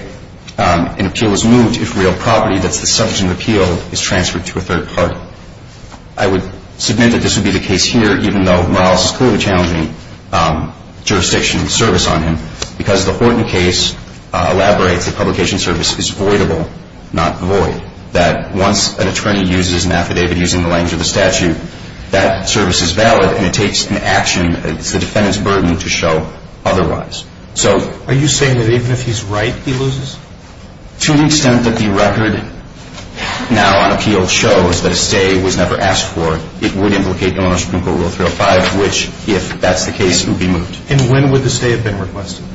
an appeal is moved if real property, that's the subject of the appeal, is transferred to a third party. So I would submit that this would be the case here, even though Morales is clearly challenging jurisdiction and service on him, because the Horton case elaborates that publication service is voidable, not void, that once an attorney uses an affidavit using the language of the statute, that service is valid and it takes an action. It's the defendant's burden to show otherwise. Are you saying that even if he's right, he loses? To the extent that the record now on appeal shows that a stay was never asked for, it would implicate Illinois Supreme Court Rule 305, which, if that's the case, would be moved. And when would the stay have been requested?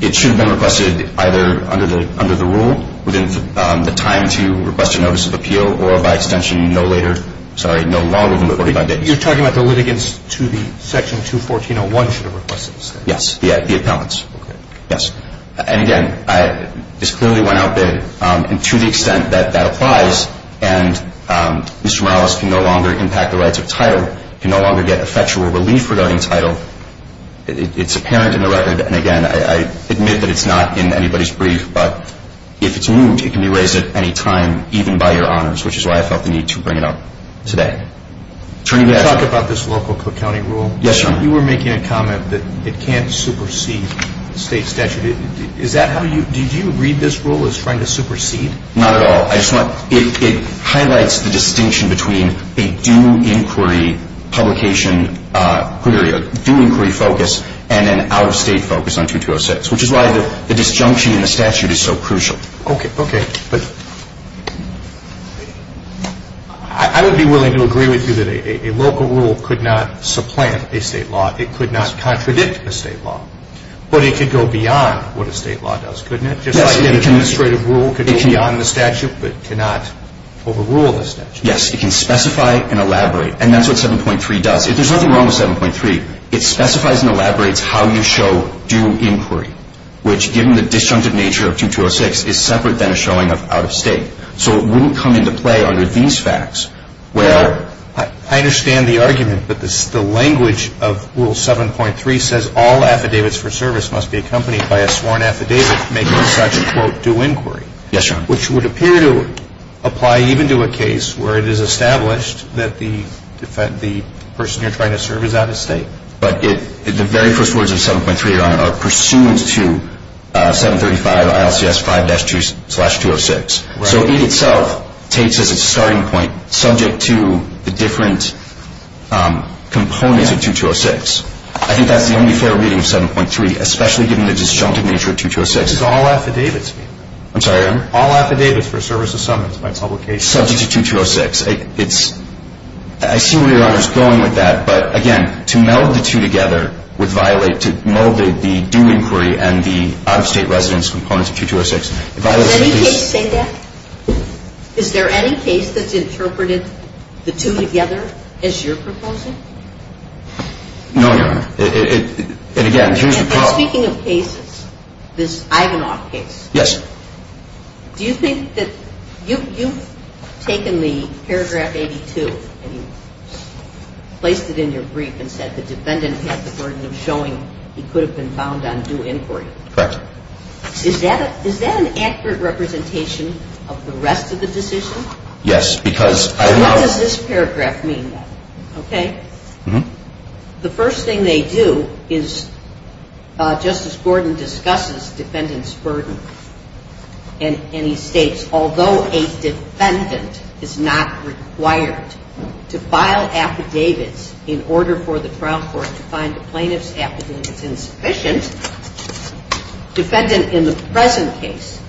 It should have been requested either under the rule, within the time to request a notice of appeal, or by extension no later, sorry, no longer than 45 days. You're talking about the litigants to the Section 214.01 should have requested the stay? Yes, the appellants. Okay. Yes. And, again, this clearly went out there, and to the extent that that applies and Mr. Morales can no longer impact the rights of title, can no longer get effectual relief regarding title, it's apparent in the record, and, again, I admit that it's not in anybody's brief, but if it's moved, it can be raised at any time, even by your honors, which is why I felt the need to bring it up today. Attorney, may I? Can you talk about this local county rule? Yes, Your Honor. Your Honor, you were making a comment that it can't supersede state statute. Is that how you – did you read this rule as trying to supersede? Not at all. I just want – it highlights the distinction between a due inquiry publication query, a due inquiry focus, and an out-of-state focus on 2206, which is why the disjunction in the statute is so crucial. Okay. Okay, but I would be willing to agree with you that a local rule could not supplant a state law. It could not contradict a state law, but it could go beyond what a state law does, couldn't it? Yes, it can. Just like the administrative rule could go beyond the statute but cannot overrule the statute. Yes, it can specify and elaborate, and that's what 7.3 does. If there's nothing wrong with 7.3, it specifies and elaborates how you show due inquiry, which, given the disjunctive nature of 2206, is separate than a showing of out-of-state. So it wouldn't come into play under these facts where – I understand the argument, but the language of Rule 7.3 says all affidavits for service must be accompanied by a sworn affidavit making such a, quote, due inquiry. Yes, Your Honor. Which would appear to apply even to a case where it is established that the person you're trying to serve is out-of-state. But it – the very first words of 7.3, Your Honor, are pursuant to 735 ILCS 5-2 slash 206. Right. So it itself takes as its starting point subject to the different components of 2206. I think that's the only fair reading of 7.3, especially given the disjunctive nature of 2206. It's all affidavits. I'm sorry, Your Honor? All affidavits for service of summons by public case. It's subject to 2206. It's – I see where Your Honor is going with that. But, again, to meld the two together would violate – to meld the due inquiry and the out-of-state residence components of 2206. Does any case say that? Is there any case that's interpreted the two together as you're proposing? No, Your Honor. And, again, here's the problem. And speaking of cases, this Ivanov case. Yes. Do you think that – you've taken the paragraph 82 and you've placed it in your brief and said the defendant had the burden of showing he could have been found on due inquiry. Correct. Is that an accurate representation of the rest of the decision? Yes, because I – What does this paragraph mean, then? Okay. Mm-hmm. The first thing they do is Justice Gordon discusses defendant's burden. And he states, although a defendant is not required to file affidavits in order for the trial court to find the plaintiff's affidavits insufficient, defendant in the present case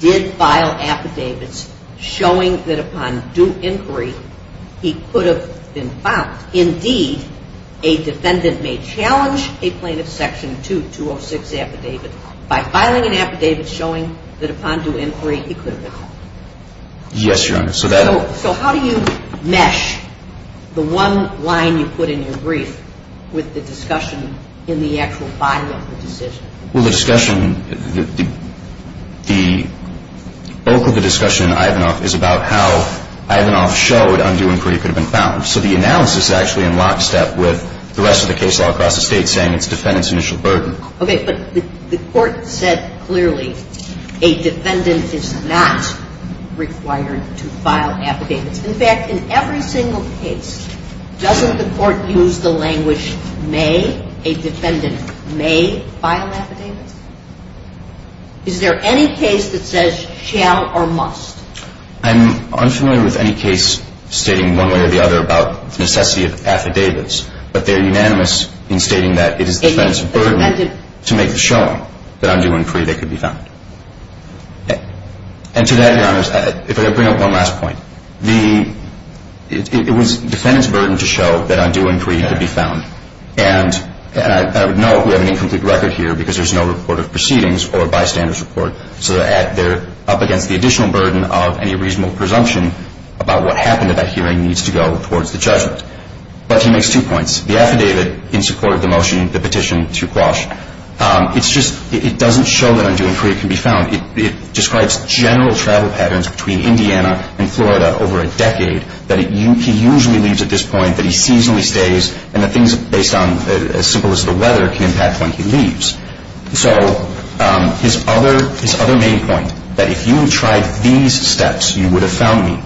did file affidavits showing that upon due inquiry he could have been found. Indeed, a defendant may challenge a plaintiff's Section 2206 affidavit by filing an affidavit showing that upon due inquiry he could have been found. Yes, Your Honor. So that'll – So how do you mesh the one line you put in your brief with the discussion in the actual body of the decision? Well, the discussion – the bulk of the discussion in Ivanov is about how Ivanov showed on due inquiry he could have been found. So the analysis is actually in lockstep with the rest of the case law across the State saying it's defendant's initial burden. Okay. But the Court said clearly a defendant is not required to file affidavits. In fact, in every single case, doesn't the Court use the language, may, a defendant may file affidavits? Is there any case that says shall or must? I'm unfamiliar with any case stating one way or the other about the necessity of affidavits. But they're unanimous in stating that it is the defendant's burden to make the showing that on due inquiry they could be found. And to that, Your Honor, if I could bring up one last point. The – it was defendant's burden to show that on due inquiry he could be found. And I would note we have an incomplete record here because there's no report of proceedings or bystander's report. So they're up against the additional burden of any reasonable presumption about what happened at that hearing needs to go towards the judgment. But he makes two points. The affidavit in support of the motion, the petition to Quash, it's just – it doesn't show that on due inquiry it can be found. It describes general travel patterns between Indiana and Florida over a decade, that he usually leaves at this point, that he seasonally stays, and the things based on as simple as the weather can impact when he leaves. So his other main point, that if you tried these steps, you would have found me,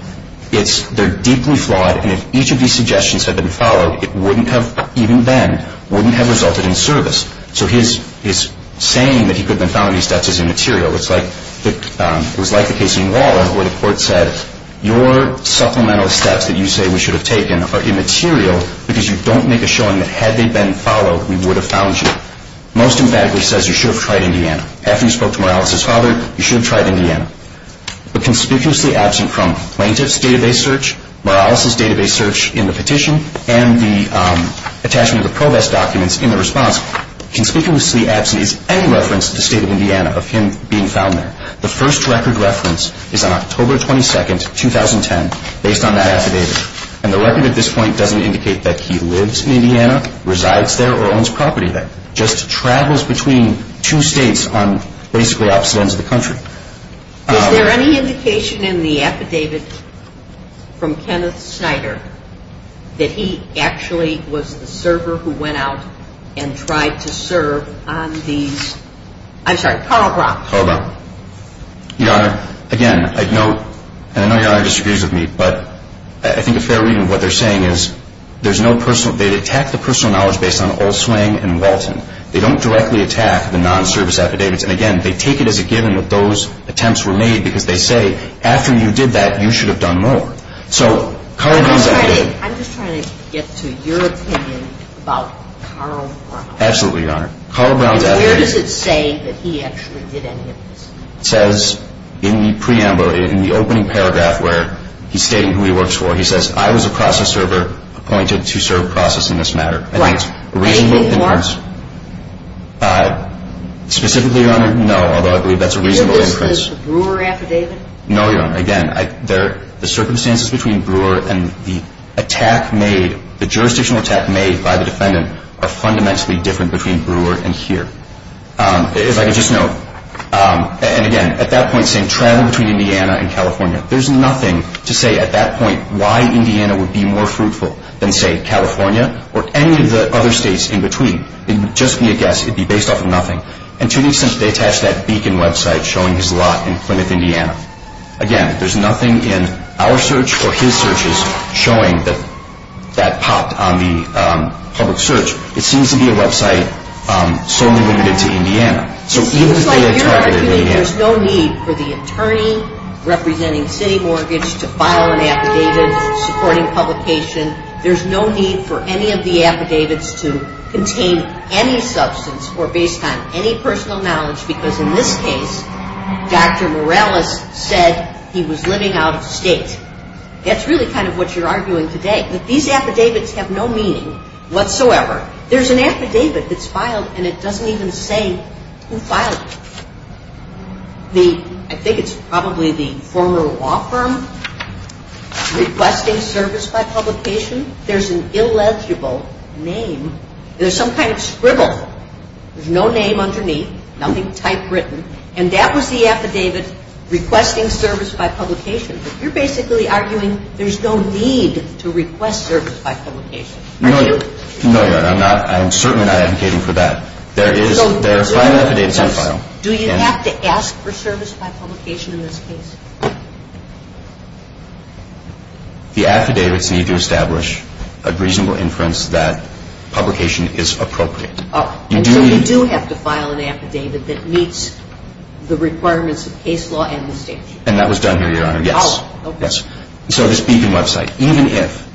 it's – they're deeply flawed. And if each of these suggestions had been followed, it wouldn't have, even then, wouldn't have resulted in service. So his saying that he could have been found in these steps is immaterial. It's like – it was like the case in Waller where the court said, your supplemental steps that you say we should have taken are immaterial because you don't make a showing that had they been followed, we would have found you. Most emphatically says you should have tried Indiana. After you spoke to Morales' father, you should have tried Indiana. But conspicuously absent from plaintiff's database search, Morales' database search in the petition, and the attachment of the ProVest documents in the response, conspicuously absent is any reference to the state of Indiana of him being found there. The first record reference is on October 22, 2010, based on that affidavit. And the record at this point doesn't indicate that he lives in Indiana, resides there, or owns property there. Just travels between two states on basically opposite ends of the country. Is there any indication in the affidavit from Kenneth Snyder that he actually was the server who went out and tried to serve on these – I'm sorry, Karl Brock. Karl Brock. Your Honor, again, I know – and I know Your Honor disagrees with me, but I think a fair reading of what they're saying is there's no personal – they attack the personal knowledge based on Olswang and Walton. They don't directly attack the non-service affidavits. And again, they take it as a given that those attempts were made because they say, after you did that, you should have done more. So Karl Brock's affidavit – I'm just trying to get to your opinion about Karl Brock. Absolutely, Your Honor. Where does it say that he actually did any of this? It says in the preamble, in the opening paragraph where he's stating who he works for, he says, I was a process server appointed to serve process in this matter. Right. And he did more? Specifically, Your Honor, no, although I believe that's a reasonable inference. He did this with the Brewer affidavit? No, Your Honor. Again, the circumstances between Brewer and the attack made, the jurisdictional attack made by the defendant, are fundamentally different between Brewer and here. If I could just note, and again, at that point, saying travel between Indiana and California, there's nothing to say at that point why Indiana would be more fruitful than, say, California or any of the other states in between. It would just be a guess. It would be based off of nothing. And to an extent, they attached that Beacon website showing his lot in Plymouth, Indiana. Again, there's nothing in our search or his searches showing that that popped on the public search. It seems to be a website solely limited to Indiana. It seems like you're arguing there's no need for the attorney representing City Mortgage to file an affidavit supporting publication. There's no need for any of the affidavits to contain any substance or based on any personal knowledge because in this case, Dr. Morales said he was living out of state. That's really kind of what you're arguing today. These affidavits have no meaning whatsoever. There's an affidavit that's filed and it doesn't even say who filed it. I think it's probably the former law firm requesting service by publication. There's an illegible name. There's some kind of scribble. There's no name underneath, nothing typewritten. And that was the affidavit requesting service by publication. You're basically arguing there's no need to request service by publication. No, Your Honor. I'm certainly not advocating for that. There are five affidavits on file. Do you have to ask for service by publication in this case? The affidavits need to establish a reasonable inference that publication is appropriate. And so you do have to file an affidavit that meets the requirements of case law and the statute. And that was done here, Your Honor, yes. So this Beacon website, even if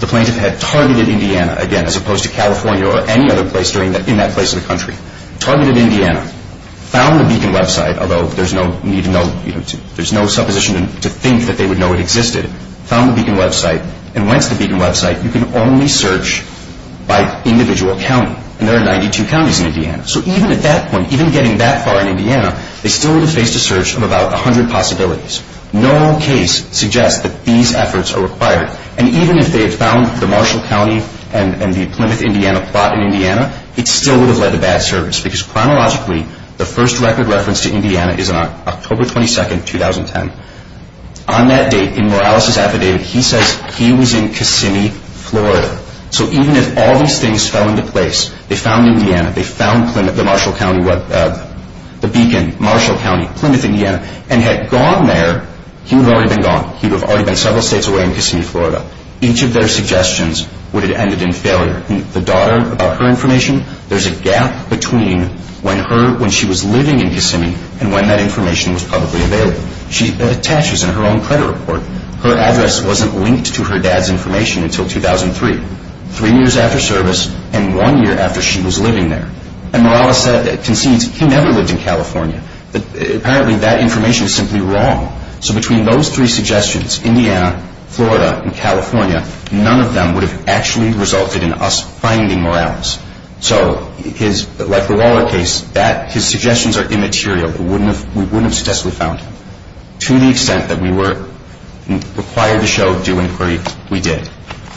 the plaintiff had targeted Indiana, again, as opposed to California or any other place in that place of the country, targeted Indiana, found the Beacon website, although there's no supposition to think that they would know it existed, found the Beacon website, and went to the Beacon website, you can only search by individual county. And there are 92 counties in Indiana. So even at that point, even getting that far in Indiana, they still would have faced a search of about 100 possibilities. No case suggests that these efforts are required. And even if they had found the Marshall County and the Plymouth, Indiana plot in Indiana, it still would have led to bad service because chronologically, the first record reference to Indiana is on October 22, 2010. On that date, in Morales' affidavit, he says he was in Kissimmee, Florida. So even if all these things fell into place, they found Indiana, they found the Marshall County, the Beacon, Marshall County, Plymouth, Indiana, and had gone there, he would have already been gone. He would have already been several states away in Kissimmee, Florida. Each of their suggestions would have ended in failure. The daughter, about her information, there's a gap between when she was living in Kissimmee and when that information was publicly available. She attaches in her own credit report, her address wasn't linked to her dad's information until 2003, three years after service and one year after she was living there. And Morales concedes he never lived in California. Apparently that information is simply wrong. So between those three suggestions, Indiana, Florida, and California, none of them would have actually resulted in us finding Morales. So like the Waller case, his suggestions are immaterial. We wouldn't have successfully found him. To the extent that we were required to show due inquiry, we did.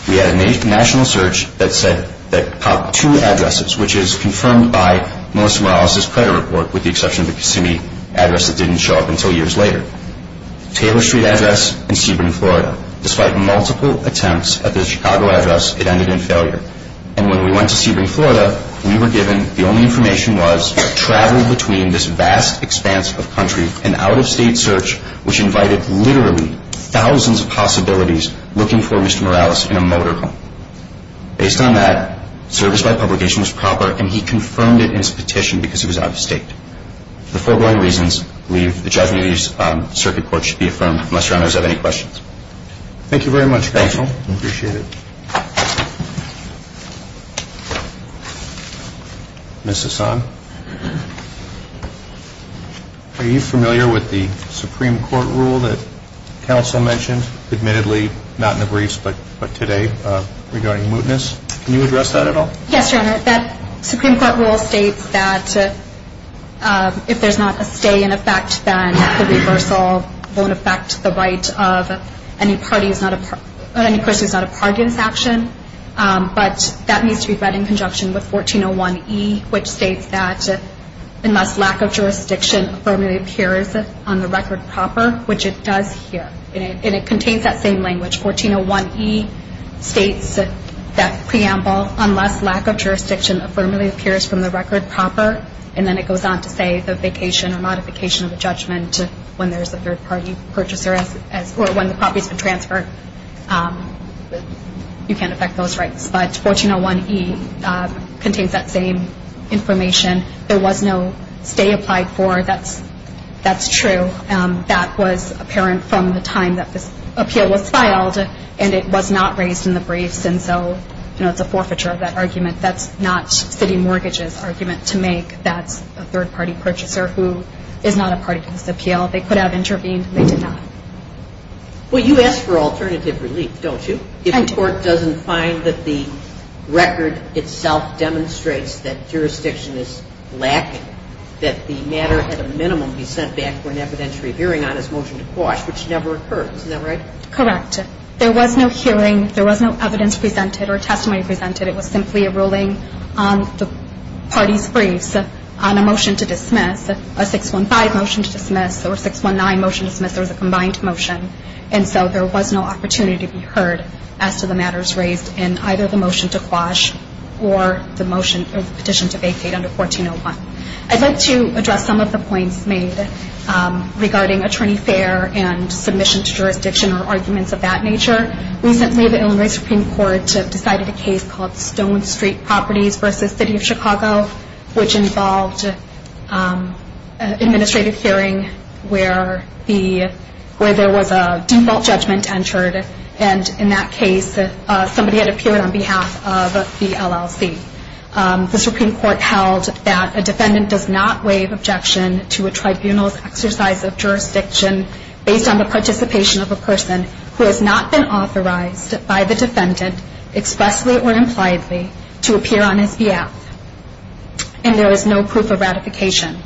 We had a national search that popped two addresses, which is confirmed by Melissa Morales' credit report, with the exception of the Kissimmee address that didn't show up until years later. Taylor Street address and Sebring, Florida. Despite multiple attempts at the Chicago address, it ended in failure. And when we went to Sebring, Florida, we were given, the only information was travel between this vast expanse of country, an out-of-state search which invited literally thousands of possibilities looking for Mr. Morales in a motor home. Based on that, service by publication was proper, and he confirmed it in his petition because he was out-of-state. For the foregoing reasons, the judgment of the circuit court should be affirmed, unless your honors have any questions. Thank you very much, counsel. Thank you. I appreciate it. Ms. Hassan? Are you familiar with the Supreme Court rule that counsel mentioned, admittedly not in the briefs but today, regarding mootness? Can you address that at all? Yes, your honor. That Supreme Court rule states that if there's not a stay in effect, then the reversal won't affect the right of any person who's not a party in this action. But that needs to be read in conjunction with 1401E, which states that unless lack of jurisdiction firmly appears on the record proper, which it does here, and it contains that same language. 1401E states that preamble, unless lack of jurisdiction firmly appears from the record proper, and then it goes on to say the vacation or modification of the judgment when there's a third-party purchaser or when the property's been transferred, you can't affect those rights. But 1401E contains that same information. There was no stay applied for. That's true. That was apparent from the time that this appeal was filed, and it was not raised in the briefs. And so, you know, it's a forfeiture of that argument. That's not city mortgages' argument to make. That's a third-party purchaser who is not a party to this appeal. They could have intervened. They did not. Well, you ask for alternative relief, don't you? I do. But the court doesn't find that the record itself demonstrates that jurisdiction is lacking, that the matter at a minimum be sent back for an evidentiary hearing on as motion to quash, which never occurred. Isn't that right? Correct. There was no hearing. There was no evidence presented or testimony presented. It was simply a ruling on the party's briefs on a motion to dismiss, a 615 motion to dismiss, or a 619 motion to dismiss. There was a combined motion. And so, there was no opportunity to be heard as to the matters raised in either the motion to quash or the petition to vacate under 1401. I'd like to address some of the points made regarding attorney fair and submission to jurisdiction or arguments of that nature. Recently, the Illinois Supreme Court decided a case called Stone Street Properties v. City of Chicago, which involved an administrative hearing where there was a default judgment entered. And in that case, somebody had appeared on behalf of the LLC. The Supreme Court held that a defendant does not waive objection to a tribunal's exercise of jurisdiction based on the participation of a person who has not been authorized by the defendant expressly or impliedly to appear on his behalf. And there is no proof of ratification.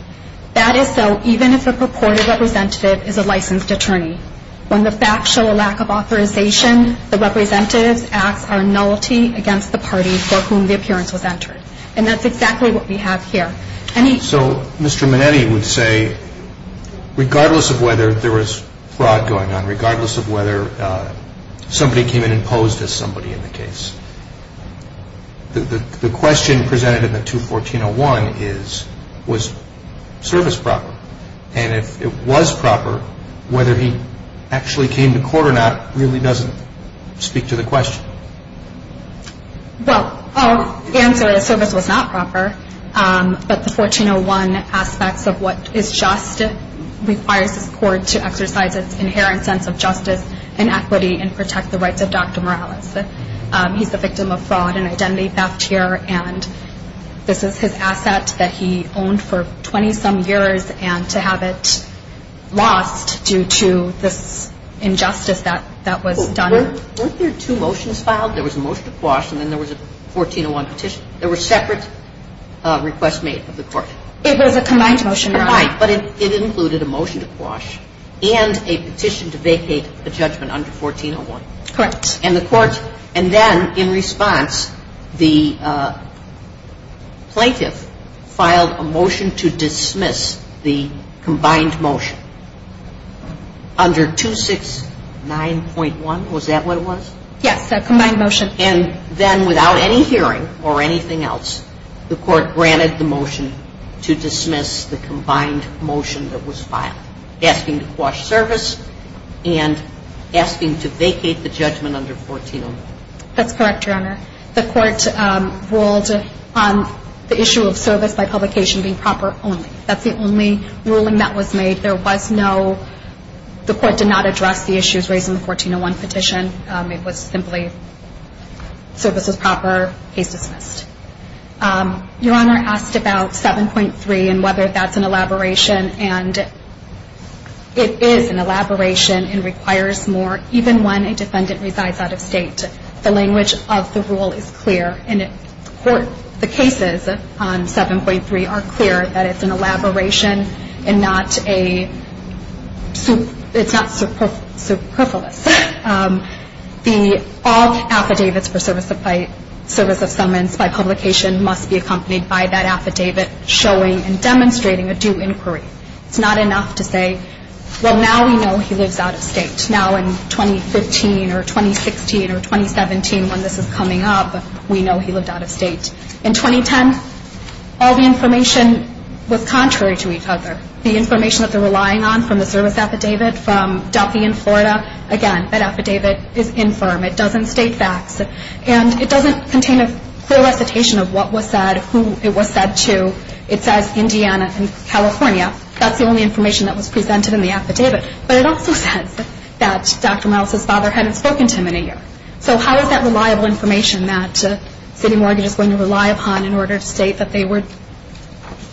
That is so even if a purported representative is a licensed attorney. When the facts show a lack of authorization, the representative's acts are nullity against the party for whom the appearance was entered. And that's exactly what we have here. So, Mr. Minetti would say, regardless of whether there was fraud going on, the question presented in the 214-01 is, was service proper? And if it was proper, whether he actually came to court or not, really doesn't speak to the question. Well, our answer is service was not proper. But the 1401 aspects of what is just requires the court to exercise its inherent sense of justice and equity and protect the rights of Dr. Morales. He's the victim of fraud and identity theft here. And this is his asset that he owned for 20-some years. And to have it lost due to this injustice that was done. Weren't there two motions filed? There was a motion to quash and then there was a 1401 petition. There were separate requests made of the court. It was a combined motion. It was a combined. But it included a motion to quash and a petition to vacate the judgment under 1401. Correct. And the court, and then in response, the plaintiff filed a motion to dismiss the combined motion under 269.1. Was that what it was? Yes. A combined motion. And then without any hearing or anything else, the court granted the motion to dismiss the combined motion that was filed, asking to quash service and asking to vacate the judgment under 1401. That's correct, Your Honor. The court ruled on the issue of service by publication being proper only. That's the only ruling that was made. There was no, the court did not address the issues raised in the 1401 petition. It was simply service was proper, case dismissed. Your Honor asked about 7.3 and whether that's an elaboration. And it is an elaboration and requires more even when a defendant resides out of state. The language of the rule is clear. And the cases on 7.3 are clear that it's an elaboration and not a, it's not superfluous. All affidavits for service of summons by publication must be accompanied by that affidavit showing and demonstrating a due inquiry. It's not enough to say, well, now we know he lives out of state. Now in 2015 or 2016 or 2017 when this is coming up, we know he lived out of state. In 2010, all the information was contrary to each other. The information that they're relying on from the service affidavit from Duffy in Florida, again, that affidavit is infirm. It doesn't state facts. And it doesn't contain a clear recitation of what was said, who it was said to. It says Indiana and California. That's the only information that was presented in the affidavit. But it also says that Dr. Miles' father hadn't spoken to him in a year. So how is that reliable information that city mortgage is going to rely upon in order to state that they were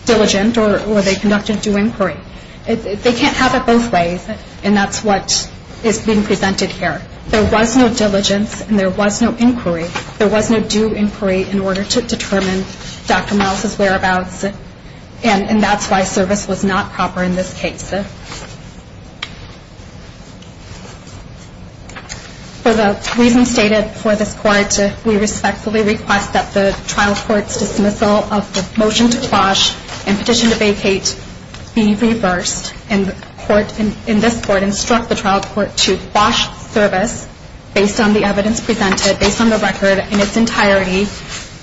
diligent or they conducted due inquiry? They can't have it both ways, and that's what is being presented here. There was no diligence and there was no inquiry. There was no due inquiry in order to determine Dr. Miles' whereabouts, and that's why service was not proper in this case. For the reasons stated before this Court, we respectfully request that the trial court's dismissal of the motion to quash and petition to vacate be reversed, and in this Court instruct the trial court to quash service based on the evidence presented, based on the record in its entirety,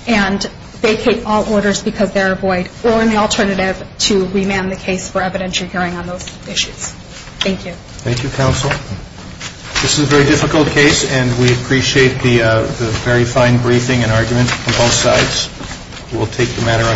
and vacate all orders because they are void, or in the alternative to remand the case for evidentiary hearing on those issues. Thank you. Thank you, counsel. This is a very difficult case, and we appreciate the very fine briefing and argument from both sides. We'll take the matter on.